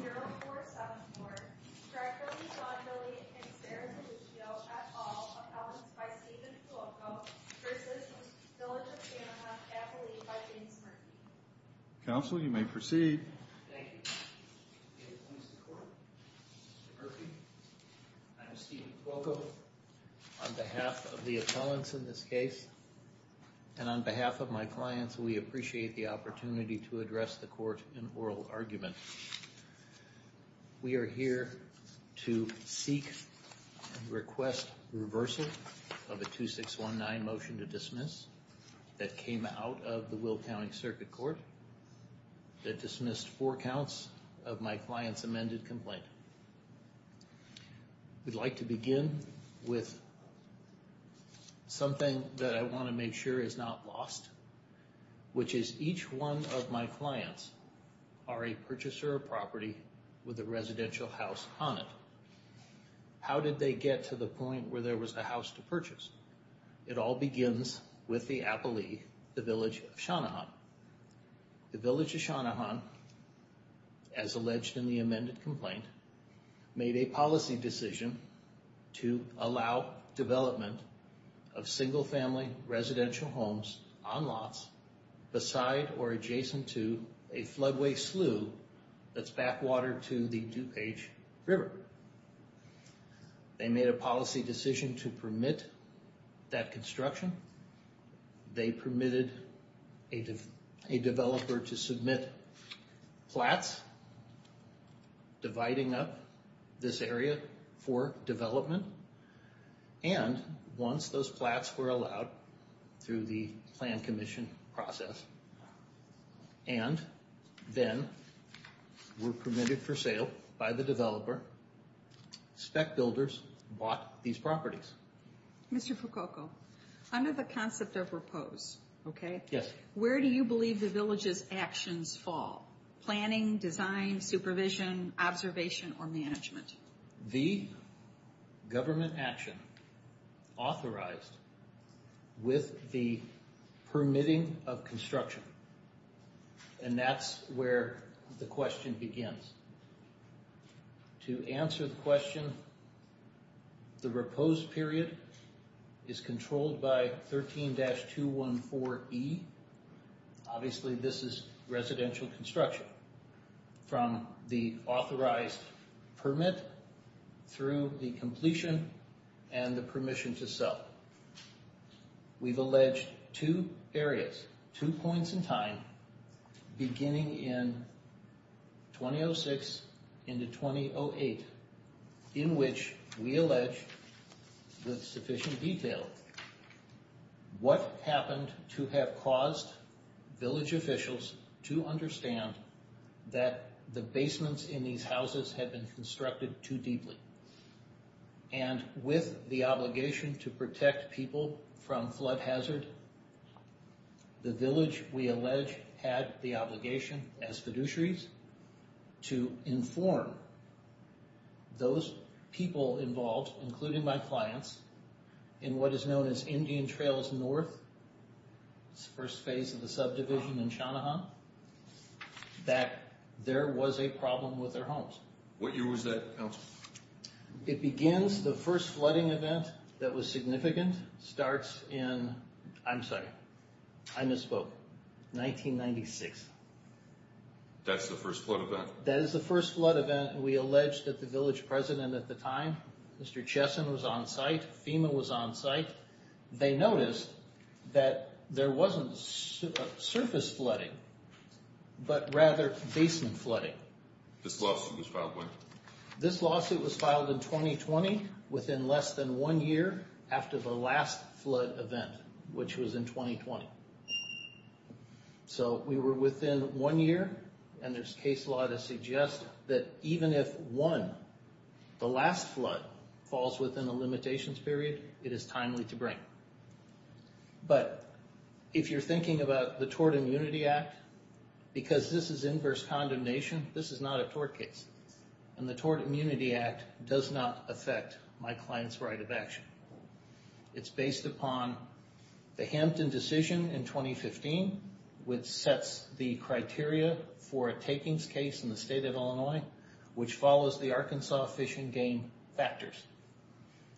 323-0474, Stratford, Lauderdale, and San Luis Obispo, at all, appellants by Stephen Tuoco, Chris's, Village of Channahon, affiliate by James Murphy. Counsel, you may proceed. Thank you. Good morning, Mr. Court. Mr. Murphy, I'm Stephen Tuoco. On behalf of the appellants in this case, and on behalf of my clients, we appreciate the opportunity to address the court in oral argument. We are here to seek and request reversal of a 2619 motion to dismiss that came out of the Will County Circuit Court that dismissed four counts of my client's amended complaint. We'd like to begin with something that I want to make sure is not lost, which is each one of my clients are a purchaser of property with a residential house on it. How did they get to the point where there was a house to purchase? It all begins with the appellee, the Village of Channahon. The Village of Channahon, as alleged in the amended complaint, made a policy decision to allow development of single-family residential homes on lots beside or adjacent to a floodway slough that's backwater to the DuPage River. They made a policy decision to permit that construction. They permitted a developer to submit flats, dividing up this area for development, and once those flats were allowed through the plan commission process, and then were permitted for sale by the developer, spec builders bought these properties. Mr. Prococo, under the concept of repose, where do you believe the Village's actions fall? Planning, design, supervision, observation, or management? The government action authorized with the permitting of construction, and that's where the question begins. To answer the question, the repose period is controlled by 13-214E. Obviously, this is residential construction from the authorized permit through the completion and the permission to sell. We've alleged two areas, two points in time, beginning in 2006 into 2008, in which we allege with sufficient detail what happened to have caused Village officials to understand that the basements in these houses had been constructed too deeply. With the obligation to protect people from flood hazard, the Village, we allege, had the obligation as fiduciaries to inform those people involved, including my clients, in what is known as Indian Trails North, the first phase of the subdivision in Shanahan, that there was a problem with their homes. What year was that, Council? It begins, the first flooding event that was significant starts in, I'm sorry, I misspoke, 1996. That's the first flood event? That is the first flood event, and we allege that the Village President at the time, Mr. Chesson was on site, FEMA was on site, they noticed that there wasn't surface flooding, but rather basin flooding. This lawsuit was filed when? This lawsuit was filed in 2020, within less than one year after the last flood event, which was in 2020. So we were within one year, and there's case law to suggest that even if one, the last flood, falls within a limitations period, it is timely to bring. But if you're thinking about the Tort Immunity Act, because this is inverse condemnation, this is not a tort case. And the Tort Immunity Act does not affect my client's right of action. It's based upon the Hampton decision in 2015, which sets the criteria for a takings case in the state of Illinois, which follows the Arkansas Fish and Game factors.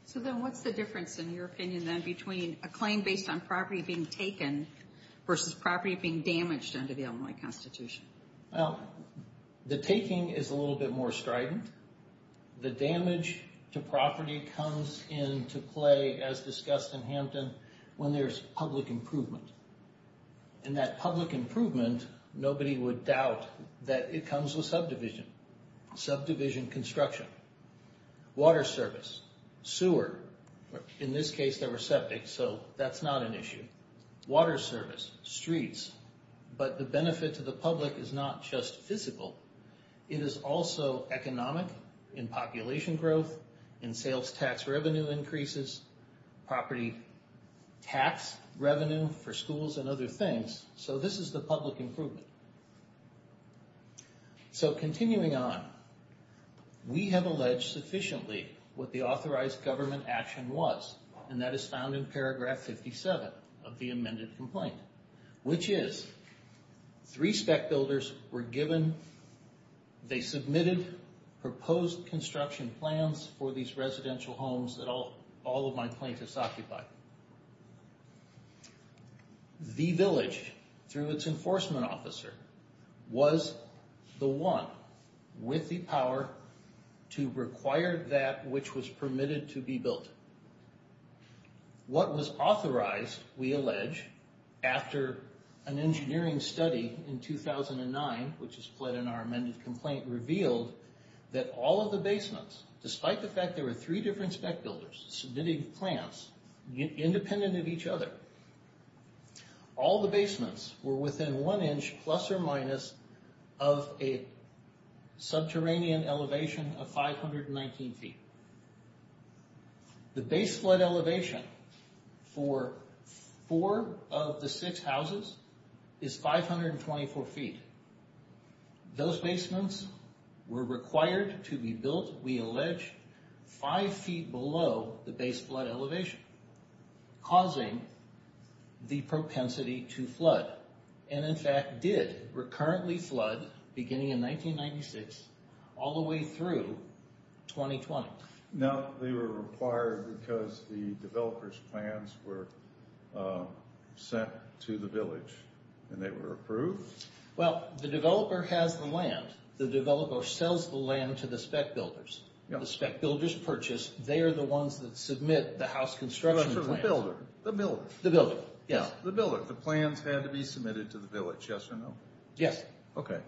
So then what's the difference, in your opinion, then, between a claim based on property being taken versus property being damaged under the Illinois Constitution? Well, the taking is a little bit more strident. The damage to property comes into play, as discussed in Hampton, when there's public improvement. And that public improvement, nobody would doubt that it comes with subdivision. Subdivision construction. Water service. Sewer. In this case, there were septics, so that's not an issue. Water service. Streets. But the benefit to the public is not just physical. It is also economic, in population growth, in sales tax revenue increases, property tax revenue for schools and other things. So this is the public improvement. So continuing on, we have alleged sufficiently what the authorized government action was. And that is found in paragraph 57 of the amended complaint. Which is, three spec builders were given, they submitted proposed construction plans for these residential homes that all of my plaintiffs occupy. The village, through its enforcement officer, was the one with the power to require that which was permitted to be built. What was authorized, we allege, after an engineering study in 2009, which is split in our amended complaint, revealed that all of the basements, despite the fact there were three different spec builders submitting plans independent of each other, all the basements were within one inch, plus or minus, of a subterranean elevation of 519 feet. The base flood elevation for four of the six houses is 524 feet. Those basements were required to be built, we allege, five feet below the base flood elevation. Causing the propensity to flood. And in fact did recurrently flood, beginning in 1996, all the way through 2020. Now, they were required because the developer's plans were sent to the village. And they were approved? Well, the developer has the land, the developer sells the land to the spec builders. The spec builders purchase, they are the ones that submit the house construction plans. The builder? The builder, yes. The builder, the plans had to be submitted to the village, yes or no? Yes. Okay.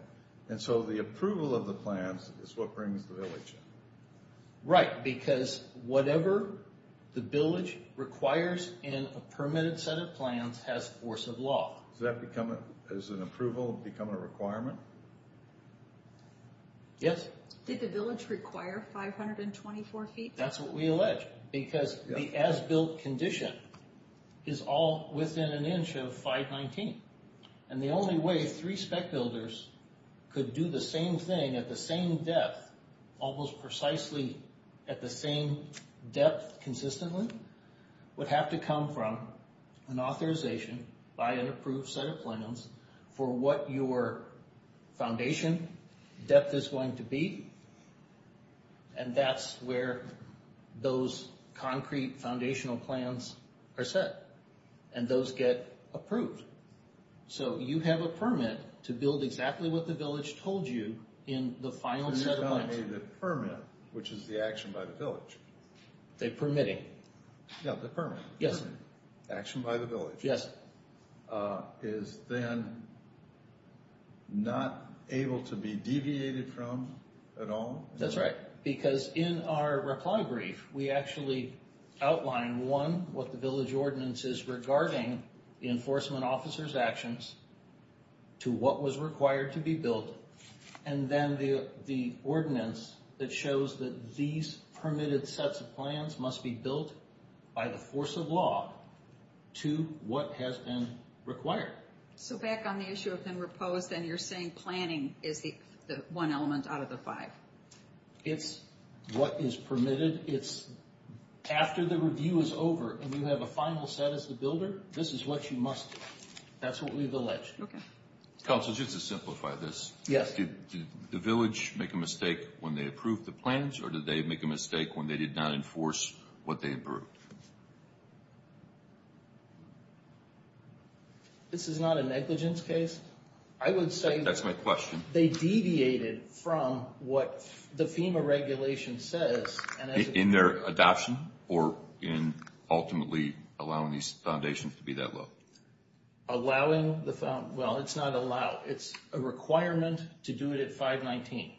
And so the approval of the plans is what brings the village in. Right, because whatever the village requires in a permitted set of plans has force of law. Does that become, as an approval, become a requirement? Yes. Did the village require 524 feet? That's what we allege, because the as-built condition is all within an inch of 519. And the only way three spec builders could do the same thing at the same depth, almost precisely at the same depth consistently, would have to come from an authorization by an approved set of plans for what your foundation depth is going to be. And that's where those concrete foundational plans are set. And those get approved. So you have a permit to build exactly what the village told you in the final set of plans. You're telling me the permit, which is the action by the village. The permitting. Yeah, the permit. Yes. Action by the village. Yes. Is then not able to be deviated from at all? That's right. Because in our reply brief, we actually outline, one, what the village ordinance is regarding the enforcement officer's actions to what was required to be built. And then the ordinance that shows that these permitted sets of plans must be built by the force of law to what has been required. So back on the issue of being reposed, then you're saying planning is the one element out of the five. It's what is permitted. It's after the review is over, and we have a final set as the builder, this is what you must do. That's what we've alleged. Okay. Counsel, just to simplify this. Yes. Did the village make a mistake when they approved the plans, or did they make a mistake when they did not enforce what they approved? This is not a negligence case. I would say. That's my question. They deviated from what the FEMA regulation says. In their adoption, or in ultimately allowing these foundations to be that low? Allowing the, well, it's not allow. It's a requirement to do it at 519.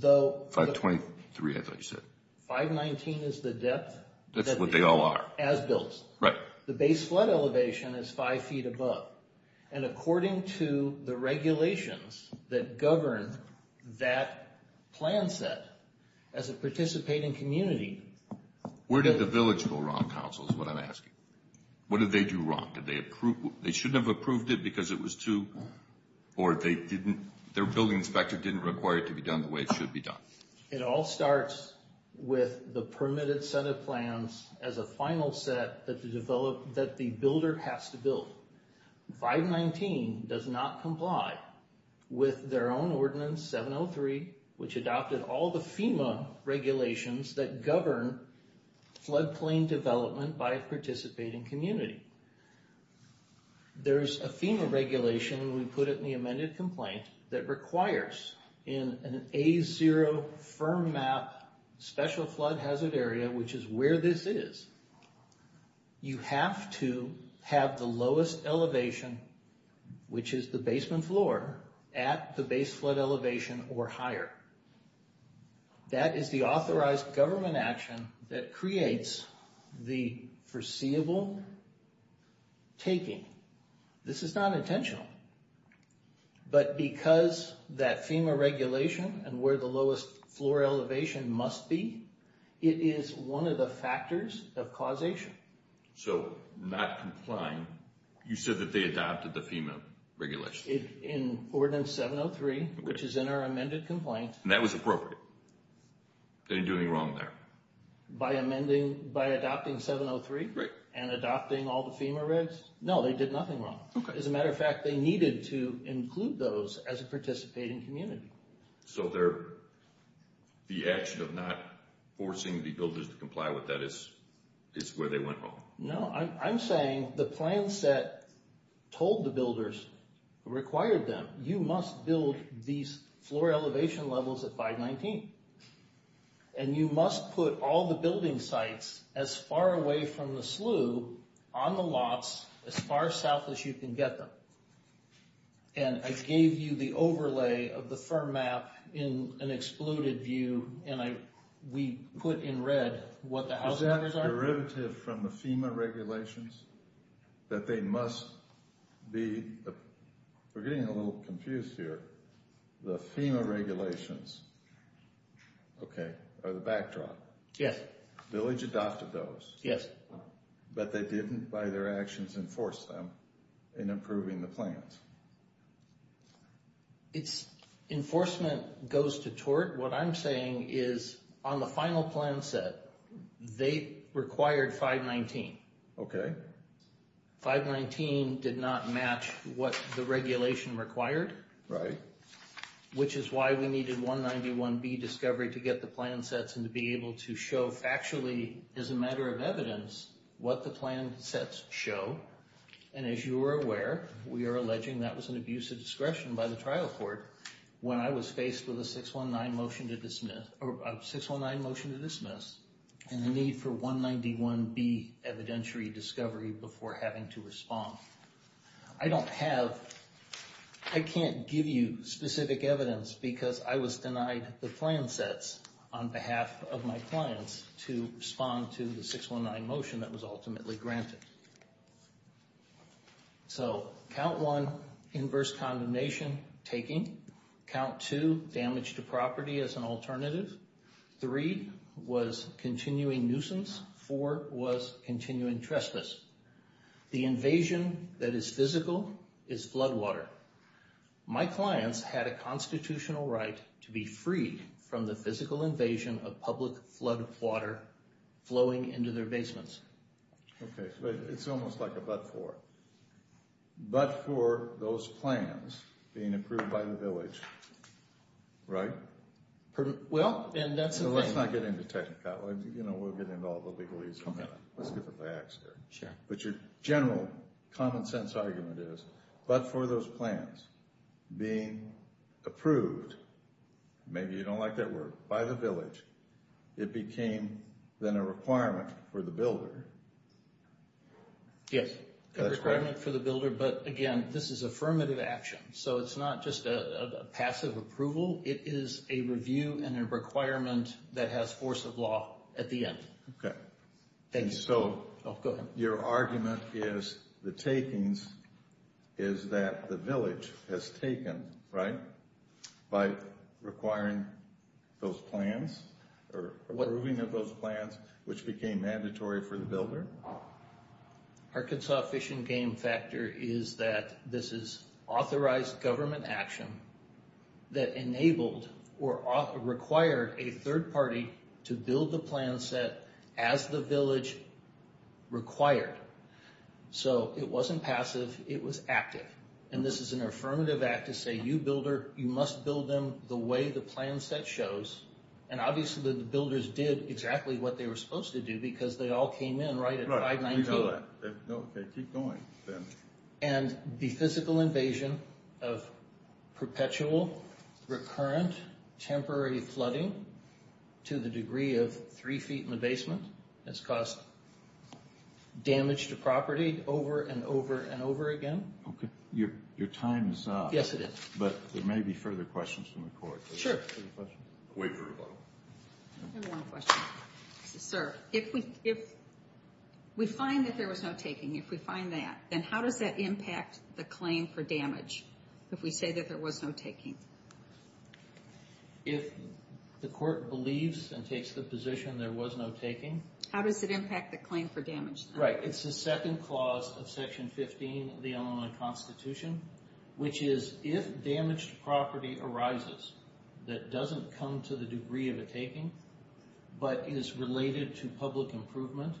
523, I thought you said. 519 is the depth. That's what they all are. As built. Right. The base flood elevation is five feet above. And according to the regulations that govern that plan set, as a participating community. Where did the village go wrong, counsel, is what I'm asking. What did they do wrong? Did they approve? They shouldn't have approved it because it was too, or they didn't, their building inspector didn't require it to be done the way it should be done. It all starts with the permitted set of plans as a final set that the builder has to build. 519 does not comply with their own ordinance, 703, which adopted all the FEMA regulations that govern floodplain development by a participating community. There's a FEMA regulation, we put it in the amended complaint, that requires in an A0 firm map special flood hazard area, which is where this is. You have to have the lowest elevation, which is the basement floor, at the base flood elevation or higher. That is the authorized government action that creates the foreseeable taking. This is not intentional. But because that FEMA regulation and where the lowest floor elevation must be, it is one of the factors of causation. So, not complying, you said that they adopted the FEMA regulation. In Ordinance 703, which is in our amended complaint. And that was appropriate. They didn't do anything wrong there. By adopting 703 and adopting all the FEMA regs? No, they did nothing wrong. As a matter of fact, they needed to include those as a participating community. So, the action of not forcing the builders to comply with that is where they went wrong? No, I'm saying the plan set told the builders, required them, you must build these floor elevation levels at 519. And you must put all the building sites as far away from the slough, on the lots, as far south as you can get them. And I gave you the overlay of the firm map in an excluded view, and we put in red what the house numbers are. Is that a derivative from the FEMA regulations? That they must be, we're getting a little confused here. The FEMA regulations, okay, are the backdrop. Yes. Village adopted those. Yes. But they didn't, by their actions, enforce them in improving the plans? Enforcement goes to tort. What I'm saying is, on the final plan set, they required 519. Okay. 519 did not match what the regulation required. Right. Which is why we needed 191B discovery to get the plan sets and to be able to show factually, as a matter of evidence, what the plan sets show. And as you are aware, we are alleging that was an abuse of discretion by the trial court when I was faced with a 619 motion to dismiss, and the need for 191B evidentiary discovery before having to respond. I don't have, I can't give you specific evidence because I was denied the plan sets on behalf of my clients to respond to the 619 motion that was ultimately granted. So, count one, inverse condemnation taking. Count two, damage to property as an alternative. Three, was continuing nuisance. Four, was continuing trespass. The invasion that is physical is flood water. My clients had a constitutional right to be freed from the physical invasion of public flood water flowing into their basements. Okay. It's almost like a but for. But for those plans being approved by the village, right? Well, and that's the thing. Let's not get into technicalities. You know, we'll get into all the legalese in a minute. Let's get the facts here. Sure. But your general common sense argument is, but for those plans being approved, maybe you don't like that word, by the village, it became then a requirement for the builder. Yes. A requirement for the builder, but again, this is affirmative action. So, it's not just a passive approval. It is a review and a requirement that has force of law at the end. Okay. Thank you. And so, your argument is the takings is that the village has taken, right? By requiring those plans or approving of those plans, which became mandatory for the builder. Arkansas Fish and Game Factor is that this is authorized government action that enabled or required a third party to build the plan set as the village required. So, it wasn't passive. It was active. And this is an affirmative act to say, you builder, you must build them the way the plan set shows. And obviously, the builders did exactly what they were supposed to do because they all came in right at 519. Right. We know that. Okay. Keep going then. And the physical invasion of perpetual, recurrent, temporary flooding to the degree of three feet in the basement has caused damage to property over and over and over again. Okay. Your time is up. Yes, it is. But there may be further questions from the court. Sure. Wait for rebuttal. I have one question. Sir, if we find that there was no taking, if we find that, then how does that impact the claim for damage, if we say that there was no taking? If the court believes and takes the position there was no taking? How does it impact the claim for damage? Right. It's the second clause of Section 15 of the Illinois Constitution, which is if damaged property arises that doesn't come to the degree of a taking but is related to public improvement,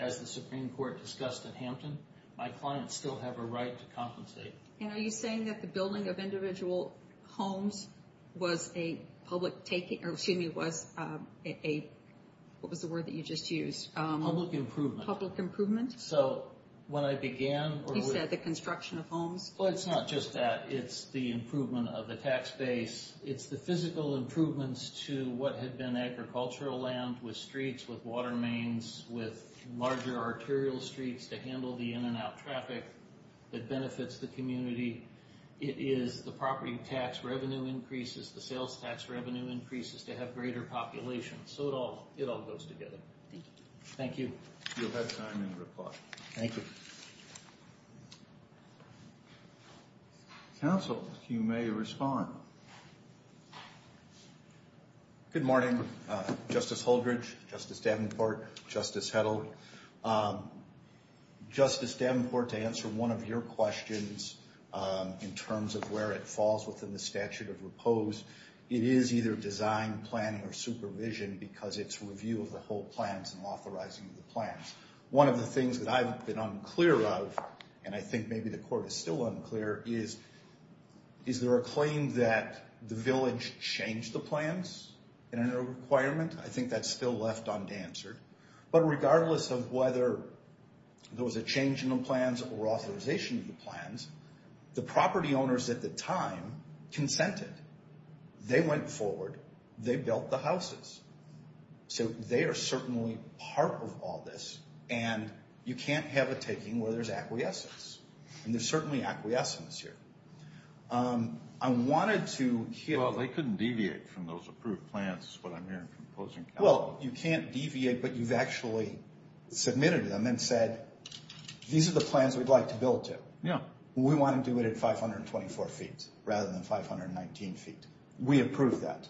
as the Supreme Court discussed at Hampton, my clients still have a right to compensate. And are you saying that the building of individual homes was a public taking, or excuse me, was a – what was the word that you just used? Public improvement. Public improvement. So when I began – You said the construction of homes. Well, it's not just that. It's the improvement of the tax base. It's the physical improvements to what had been agricultural land with streets, with water mains, with larger arterial streets to handle the in-and-out traffic that benefits the community. It is the property tax revenue increases, the sales tax revenue increases to have greater populations. So it all goes together. Thank you. Thank you. You'll have time in reply. Thank you. Counsel, you may respond. Good morning, Justice Holdredge, Justice Davenport, Justice Hedlund. Justice Davenport, to answer one of your questions in terms of where it falls within the statute of repose, it is either design, planning, or supervision because it's review of the whole plans and authorizing the plans. One of the things that I've been unclear of, and I think maybe the Court is still unclear, is is there a claim that the village changed the plans in a requirement? I think that's still left unanswered. But regardless of whether there was a change in the plans or authorization of the plans, the property owners at the time consented. They went forward. They built the houses. So they are certainly part of all this. And you can't have a taking where there's acquiescence. And there's certainly acquiescence here. I wanted to hear. Well, they couldn't deviate from those approved plans is what I'm hearing from opposing counsel. Well, you can't deviate, but you've actually submitted them and said, these are the plans we'd like to build to. Yeah. We want to do it at 524 feet rather than 519 feet. We approve that.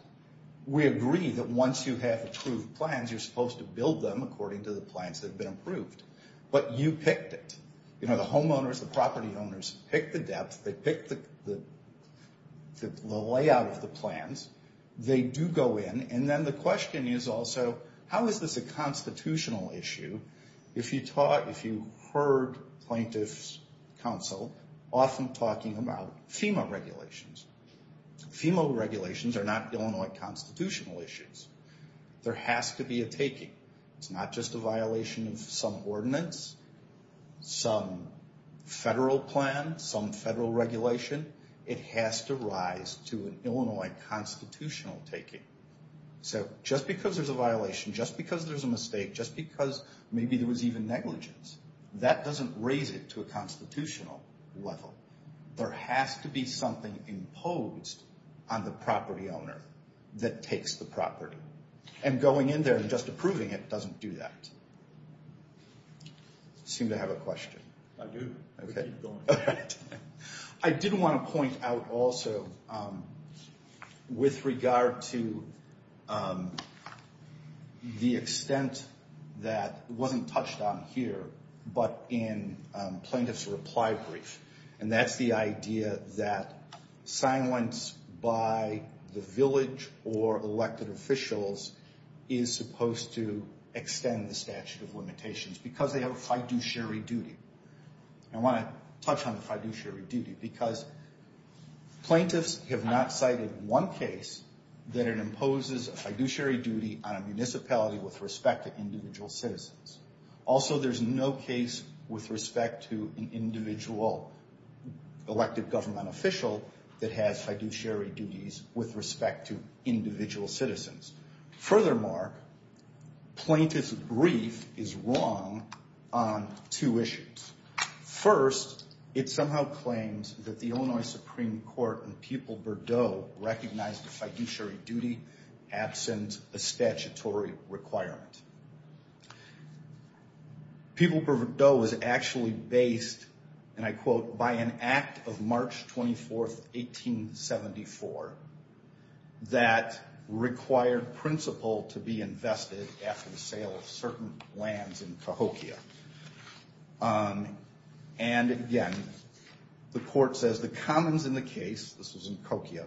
But we agree that once you have approved plans, you're supposed to build them according to the plans that have been approved. But you picked it. You know, the homeowners, the property owners pick the depth. They pick the layout of the plans. They do go in. And then the question is also, how is this a constitutional issue? If you heard plaintiffs' counsel often talking about FEMA regulations, FEMA regulations are not Illinois constitutional issues. There has to be a taking. It's not just a violation of some ordinance, some federal plan, some federal regulation. It has to rise to an Illinois constitutional taking. So just because there's a violation, just because there's a mistake, just because maybe there was even negligence, that doesn't raise it to a constitutional level. There has to be something imposed on the property owner that takes the property. And going in there and just approving it doesn't do that. You seem to have a question. I do. I did want to point out also, with regard to the extent that wasn't touched on here, but in plaintiff's reply brief. And that's the idea that silence by the village or elected officials is supposed to extend the statute of limitations because they have a fiduciary duty. I want to touch on the fiduciary duty because plaintiffs have not cited one case that it imposes a fiduciary duty on a municipality with respect to individual citizens. Also, there's no case with respect to an individual elected government official that has fiduciary duties with respect to individual citizens. Furthermore, plaintiff's brief is wrong on two issues. First, it somehow claims that the Illinois Supreme Court recognized a fiduciary duty absent a statutory requirement. People-Bordeaux was actually based, and I quote, by an act of March 24th, 1874 that required principal to be invested after the sale of certain lands in Cahokia. And again, the court says the commons in the case, this was in Cahokia,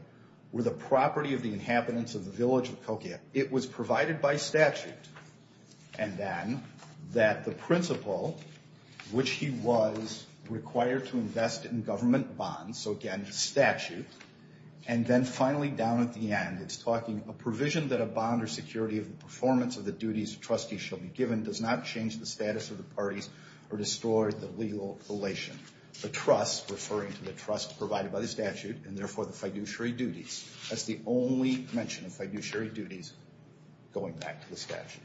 were the property of the inhabitants of the village of Cahokia. It was provided by statute. And then, that the principal, which he was required to invest in government bonds, so again, statute, and then finally down at the end, it's talking a provision that a bond or security of the performance of the duties of trustees shall be given does not change the status of the parties or destroy the legal relation. The trust, referring to the trust provided by the statute, and therefore the fiduciary duties. That's the only mention of fiduciary duties going back to the statute.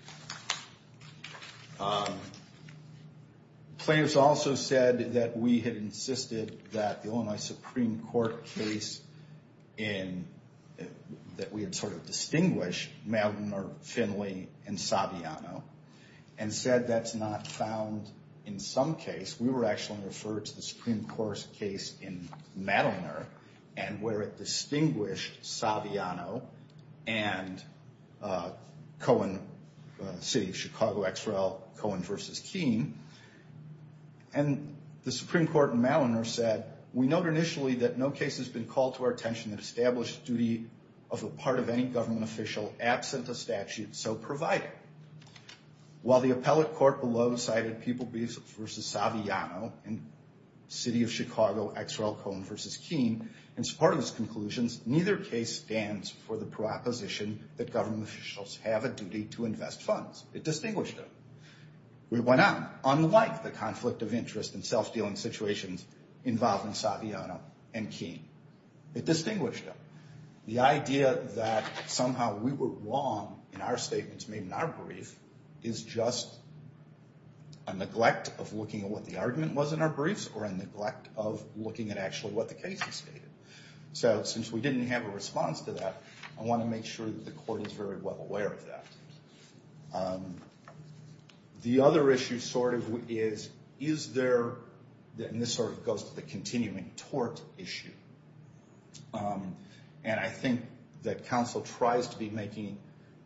Plaintiff's also said that we had insisted that the Illinois Supreme Court case, that we had sort of distinguished Madelner, Finley, and Saviano, and said that's not found in some case. We were actually referred to the Supreme Court's case in Madelner, and where it distinguished Saviano and Cohen City, Chicago XRL, Cohen versus Keene. And the Supreme Court in Madelner said, we note initially that no case has been called to our attention that established the duty of a part of any government official absent a statute so provided. While the appellate court below cited People vs. Saviano, and City of Chicago XRL Cohen versus Keene, in support of those conclusions, neither case stands for the proposition that government officials have a duty to invest funds. It distinguished them. We went on. Unlike the conflict of interest in self-dealing situations involving Saviano and Keene, it distinguished them. The idea that somehow we were wrong in our statements made in our brief is just a neglect of looking at what the argument was in our briefs, or a neglect of looking at actually what the case has stated. So since we didn't have a response to that, I want to make sure that the court is very well aware of that. The other issue sort of is, is there, and this sort of goes to the continuing tort issue. And I think that counsel tries to be making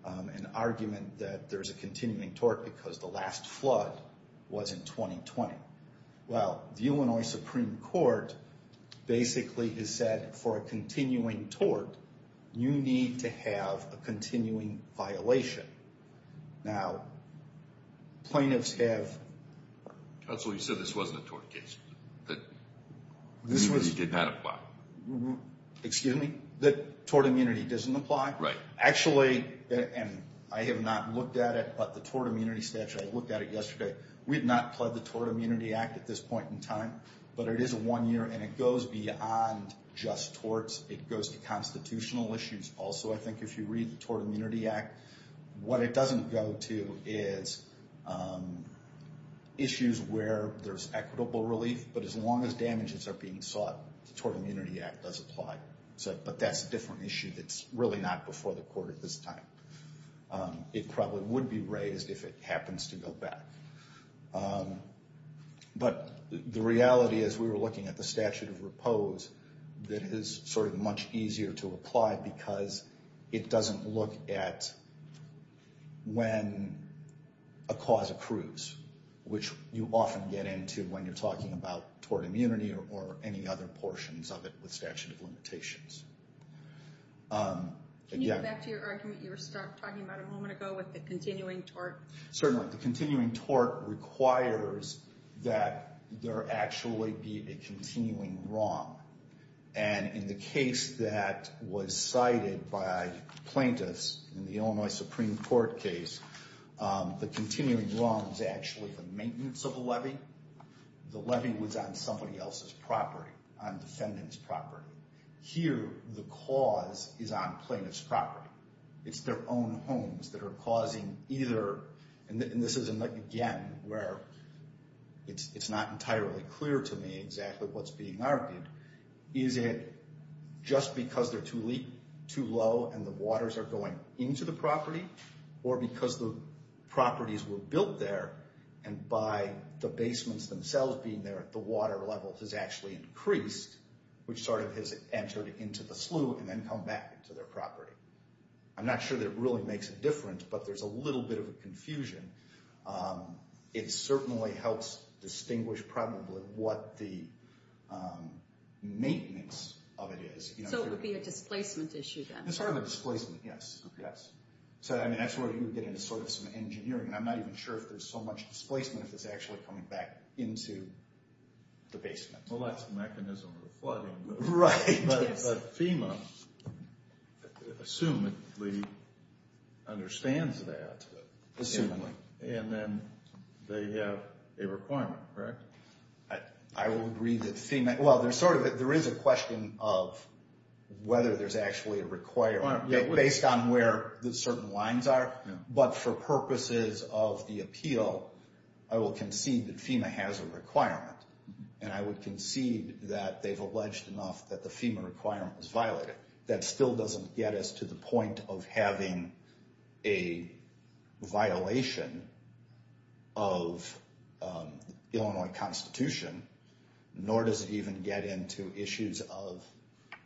an argument that there's a continuing tort because the last flood was in 2020. Well, the Illinois Supreme Court basically has said, for a continuing tort, you need to have a continuing violation. Now, plaintiffs have... Counsel, you said this wasn't a tort case. That immunity did not apply. Excuse me? That tort immunity doesn't apply? Right. Actually, and I have not looked at it, but the tort immunity statute, I looked at it yesterday. We have not pled the Tort Immunity Act at this point in time, but it is a one-year, and it goes beyond just torts. It goes to constitutional issues also. I think if you read the Tort Immunity Act, what it doesn't go to is issues where there's equitable relief, but as long as damages are being sought, the Tort Immunity Act does apply. But that's a different issue that's really not before the court at this time. It probably would be raised if it happens to go back. But the reality is, we were looking at the statute of repose that is sort of much easier to apply because it doesn't look at when a cause accrues, which you often get into when you're talking about tort immunity or any other portions of it with statute of limitations. Can you go back to your argument you were talking about a moment ago with the continuing tort? Certainly. The continuing tort requires that there actually be a continuing wrong, and in the case that was cited by plaintiffs in the Illinois Supreme Court case, the continuing wrong is actually the maintenance of the levy. The levy was on somebody else's property, on defendant's property. It's not. It's their own homes that are causing either, and this is again where it's not entirely clear to me exactly what's being argued. Is it just because they're too low and the waters are going into the property, or because the properties were built there and by the basements themselves being there, the water level has actually increased, which sort of has entered into the slough and then come back into their property. I'm not sure that it really makes a difference, but there's a little bit of a confusion. It certainly helps distinguish probably what the maintenance of it is. So it would be a displacement issue then? It's sort of a displacement, yes. So that's where you would get into sort of some engineering, and I'm not even sure if there's so much displacement if it's actually coming back into the basement. Well, that's the mechanism of the flooding. Right. But FEMA assumedly understands that. Assumedly. And then they have a requirement, correct? I will agree that FEMA, well, there's sort of, there is a question of whether there's actually a requirement, based on where the certain lines are. But for purposes of the appeal, I will concede that FEMA has a requirement, and I would concede that they've alleged enough that the FEMA requirement was violated. That still doesn't get us to the point of having a violation of Illinois Constitution, nor does it even get into issues of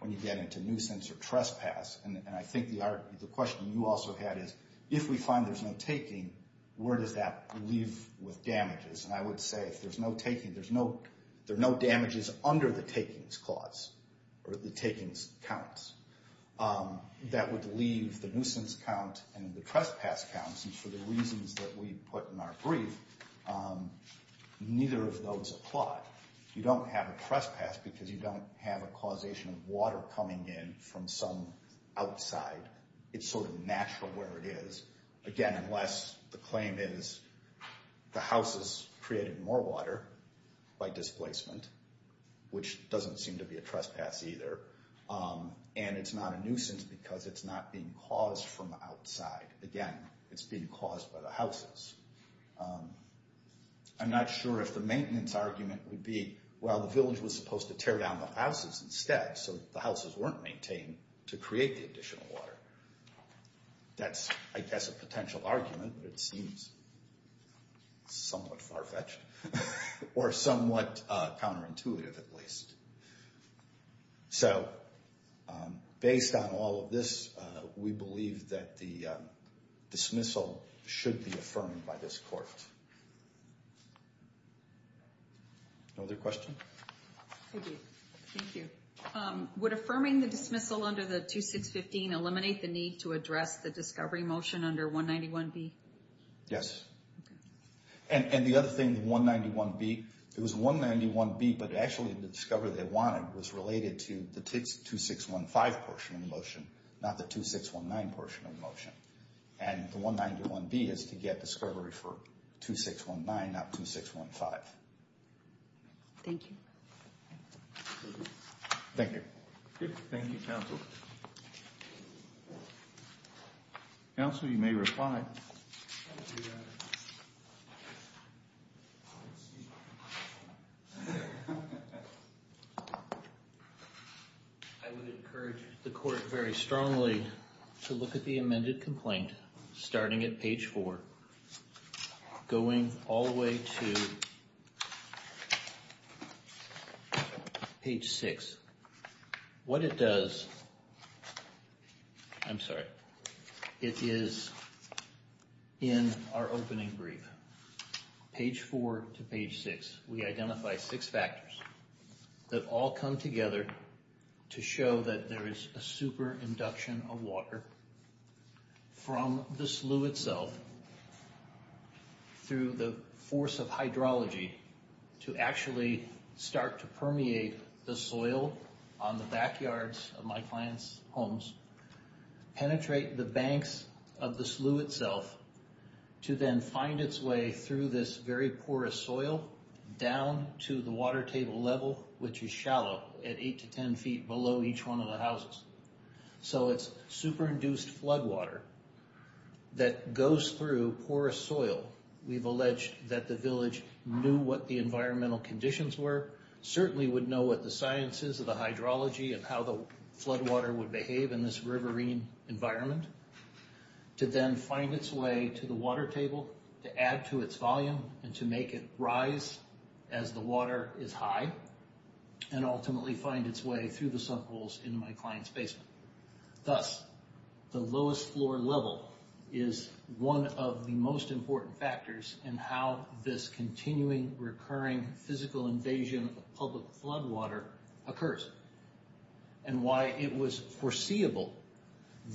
when you get into nuisance or trespass. And I think the question you also had is, if we find there's no taking, where does that leave with damages? And I would say if there's no taking, there's no, there are no damages under the takings clause, or the takings counts. That would leave the nuisance count and the trespass counts, and for the reasons that we put in our brief, neither of those apply. You don't have a trespass because you don't have a causation of water coming in from some outside. It's sort of natural where it is. Again, unless the claim is the houses created more water by displacement, which doesn't seem to be a trespass either, and it's not a nuisance because it's not being caused from the outside. Again, it's being caused by the houses. I'm not sure if the maintenance argument would be, well, the village was supposed to tear down the houses instead, so the houses weren't maintained to create the additional water. That's, I guess, a potential argument, but it seems somewhat far-fetched, or somewhat counterintuitive at least. So, based on all of this, we believe that the dismissal should be affirmed by this court. No other questions? Thank you. Thank you. Would affirming the dismissal under the 2615 eliminate the need to address the discovery motion under 191B? Yes. And the other thing, the 191B, it was 191B, but actually the discovery they wanted was related to the 2615 portion of the motion, not the 2619 portion of the motion. And the 191B is to get discovery for 2619, not 2615. Thank you. Thank you. Thank you, counsel. Counsel, you may reply. I would encourage the court very strongly to look at the amended complaint, starting at page 4, going all the way to page 6. What it does, I'm sorry, it is in our opening brief, page 4 to page 6, we identify six factors that all come together to show that there is a super induction of water from the slough itself through the force of hydrology to actually start to permeate the soil on the backyards of my client's homes, penetrate the banks of the slough itself to then find its way through this very porous soil down to the water table level, which is shallow at 8 to 10 feet below each one of the houses. So it's super induced flood water that goes through porous soil. We've alleged that the village knew what the environmental conditions were, certainly would know what the science is of the hydrology and how the flood water would behave in this riverine environment, to then find its way to the water table, to add to its volume, and to make it rise as the water is high and ultimately find its way through the subholes in my client's basement. Thus, the lowest floor level is one of the most important factors in how this continuing recurring physical invasion of public flood water occurs and why it was foreseeable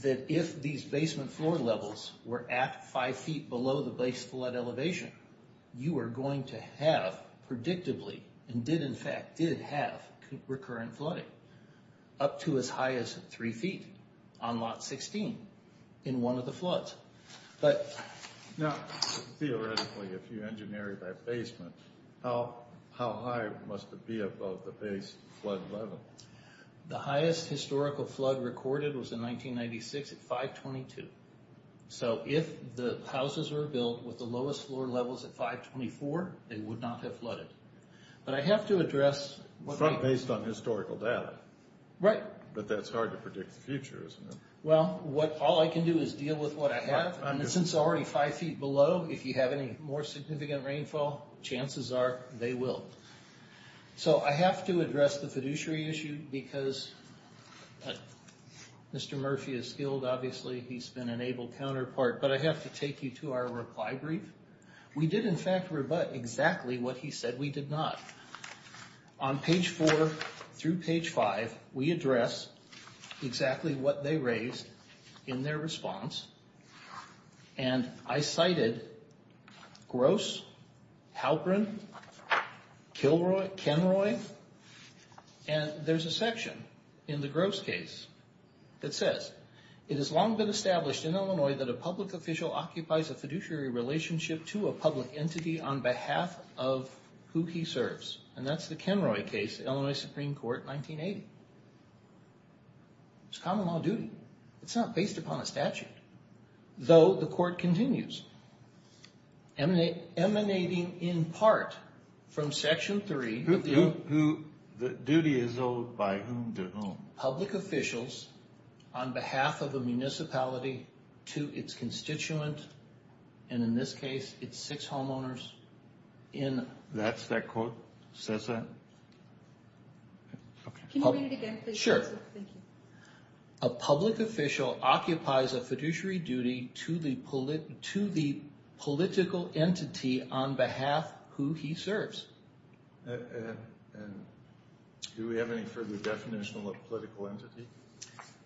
that if these basement floor levels were at 5 feet below the base flood elevation, you are going to have predictably and did in fact did have recurrent flooding up to as high as 3 feet on lot 16 in one of the floods. Now, theoretically, if you engineered that basement, how high must it be above the base flood level? The highest historical flood recorded was in 1996 at 522. So, if the houses were built with the lowest floor levels at 524, they would not have flooded. But I have to address... Based on historical data. Right. But that's hard to predict the future, isn't it? Well, all I can do is deal with what I have. And since it's already 5 feet below, if you have any more significant rainfall, chances are they will. So, I have to address the fiduciary issue because Mr. Murphy is skilled, obviously. He's been an able counterpart. But I have to take you to our reply brief. We did, in fact, rebut exactly what he said we did not. On page 4 through page 5, we address exactly what they raised in their response. And I cited Gross, Halperin, Kilroy, Kenroy. And there's a section in the Gross case that says, it has long been established in Illinois that a public official occupies a fiduciary relationship to a public entity on behalf of who he serves. And that's the Kenroy case, Illinois Supreme Court, 1980. It's common law duty. It's not based upon a statute. Though, the court continues. Emanating in part from section 3. The duty is owed by whom to whom? Public officials on behalf of a municipality to its constituent, and in this case, its six homeowners. That's that quote? Says that? Can you read it again, please? Sure. A public official occupies a fiduciary duty to the political entity on behalf of who he serves. And do we have any further definition of a political entity?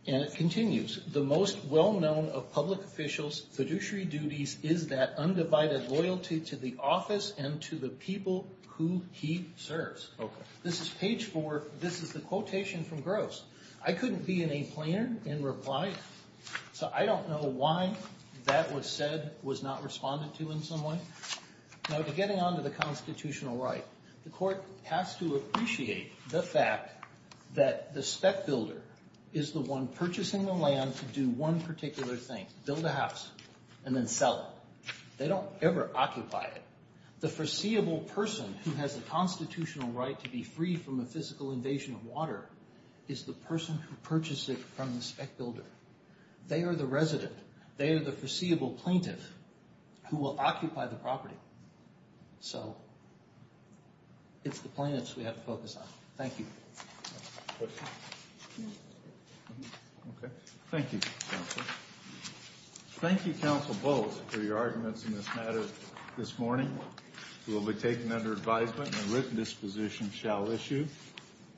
And it continues. The most well-known of public officials' fiduciary duties is that undivided loyalty to the office and to the people who he serves. Okay. This is page 4. This is the quotation from Gross. I couldn't be in a planner and reply, so I don't know why that was said, was not responded to in some way. Now, getting on to the constitutional right. The court has to appreciate the fact that the spec builder is the one purchasing the land to do one particular thing, build a house, and then sell it. They don't ever occupy it. The foreseeable person who has a constitutional right to be free from a physical invasion of water is the person who purchased it from the spec builder. They are the resident. They are the foreseeable plaintiff who will occupy the property. So it's the plaintiffs we have to focus on. Thank you. Okay. Thank you, Counsel. Thank you, Counsel Bowles, for your arguments in this matter this morning. It will be taken under advisement and a written disposition shall issue.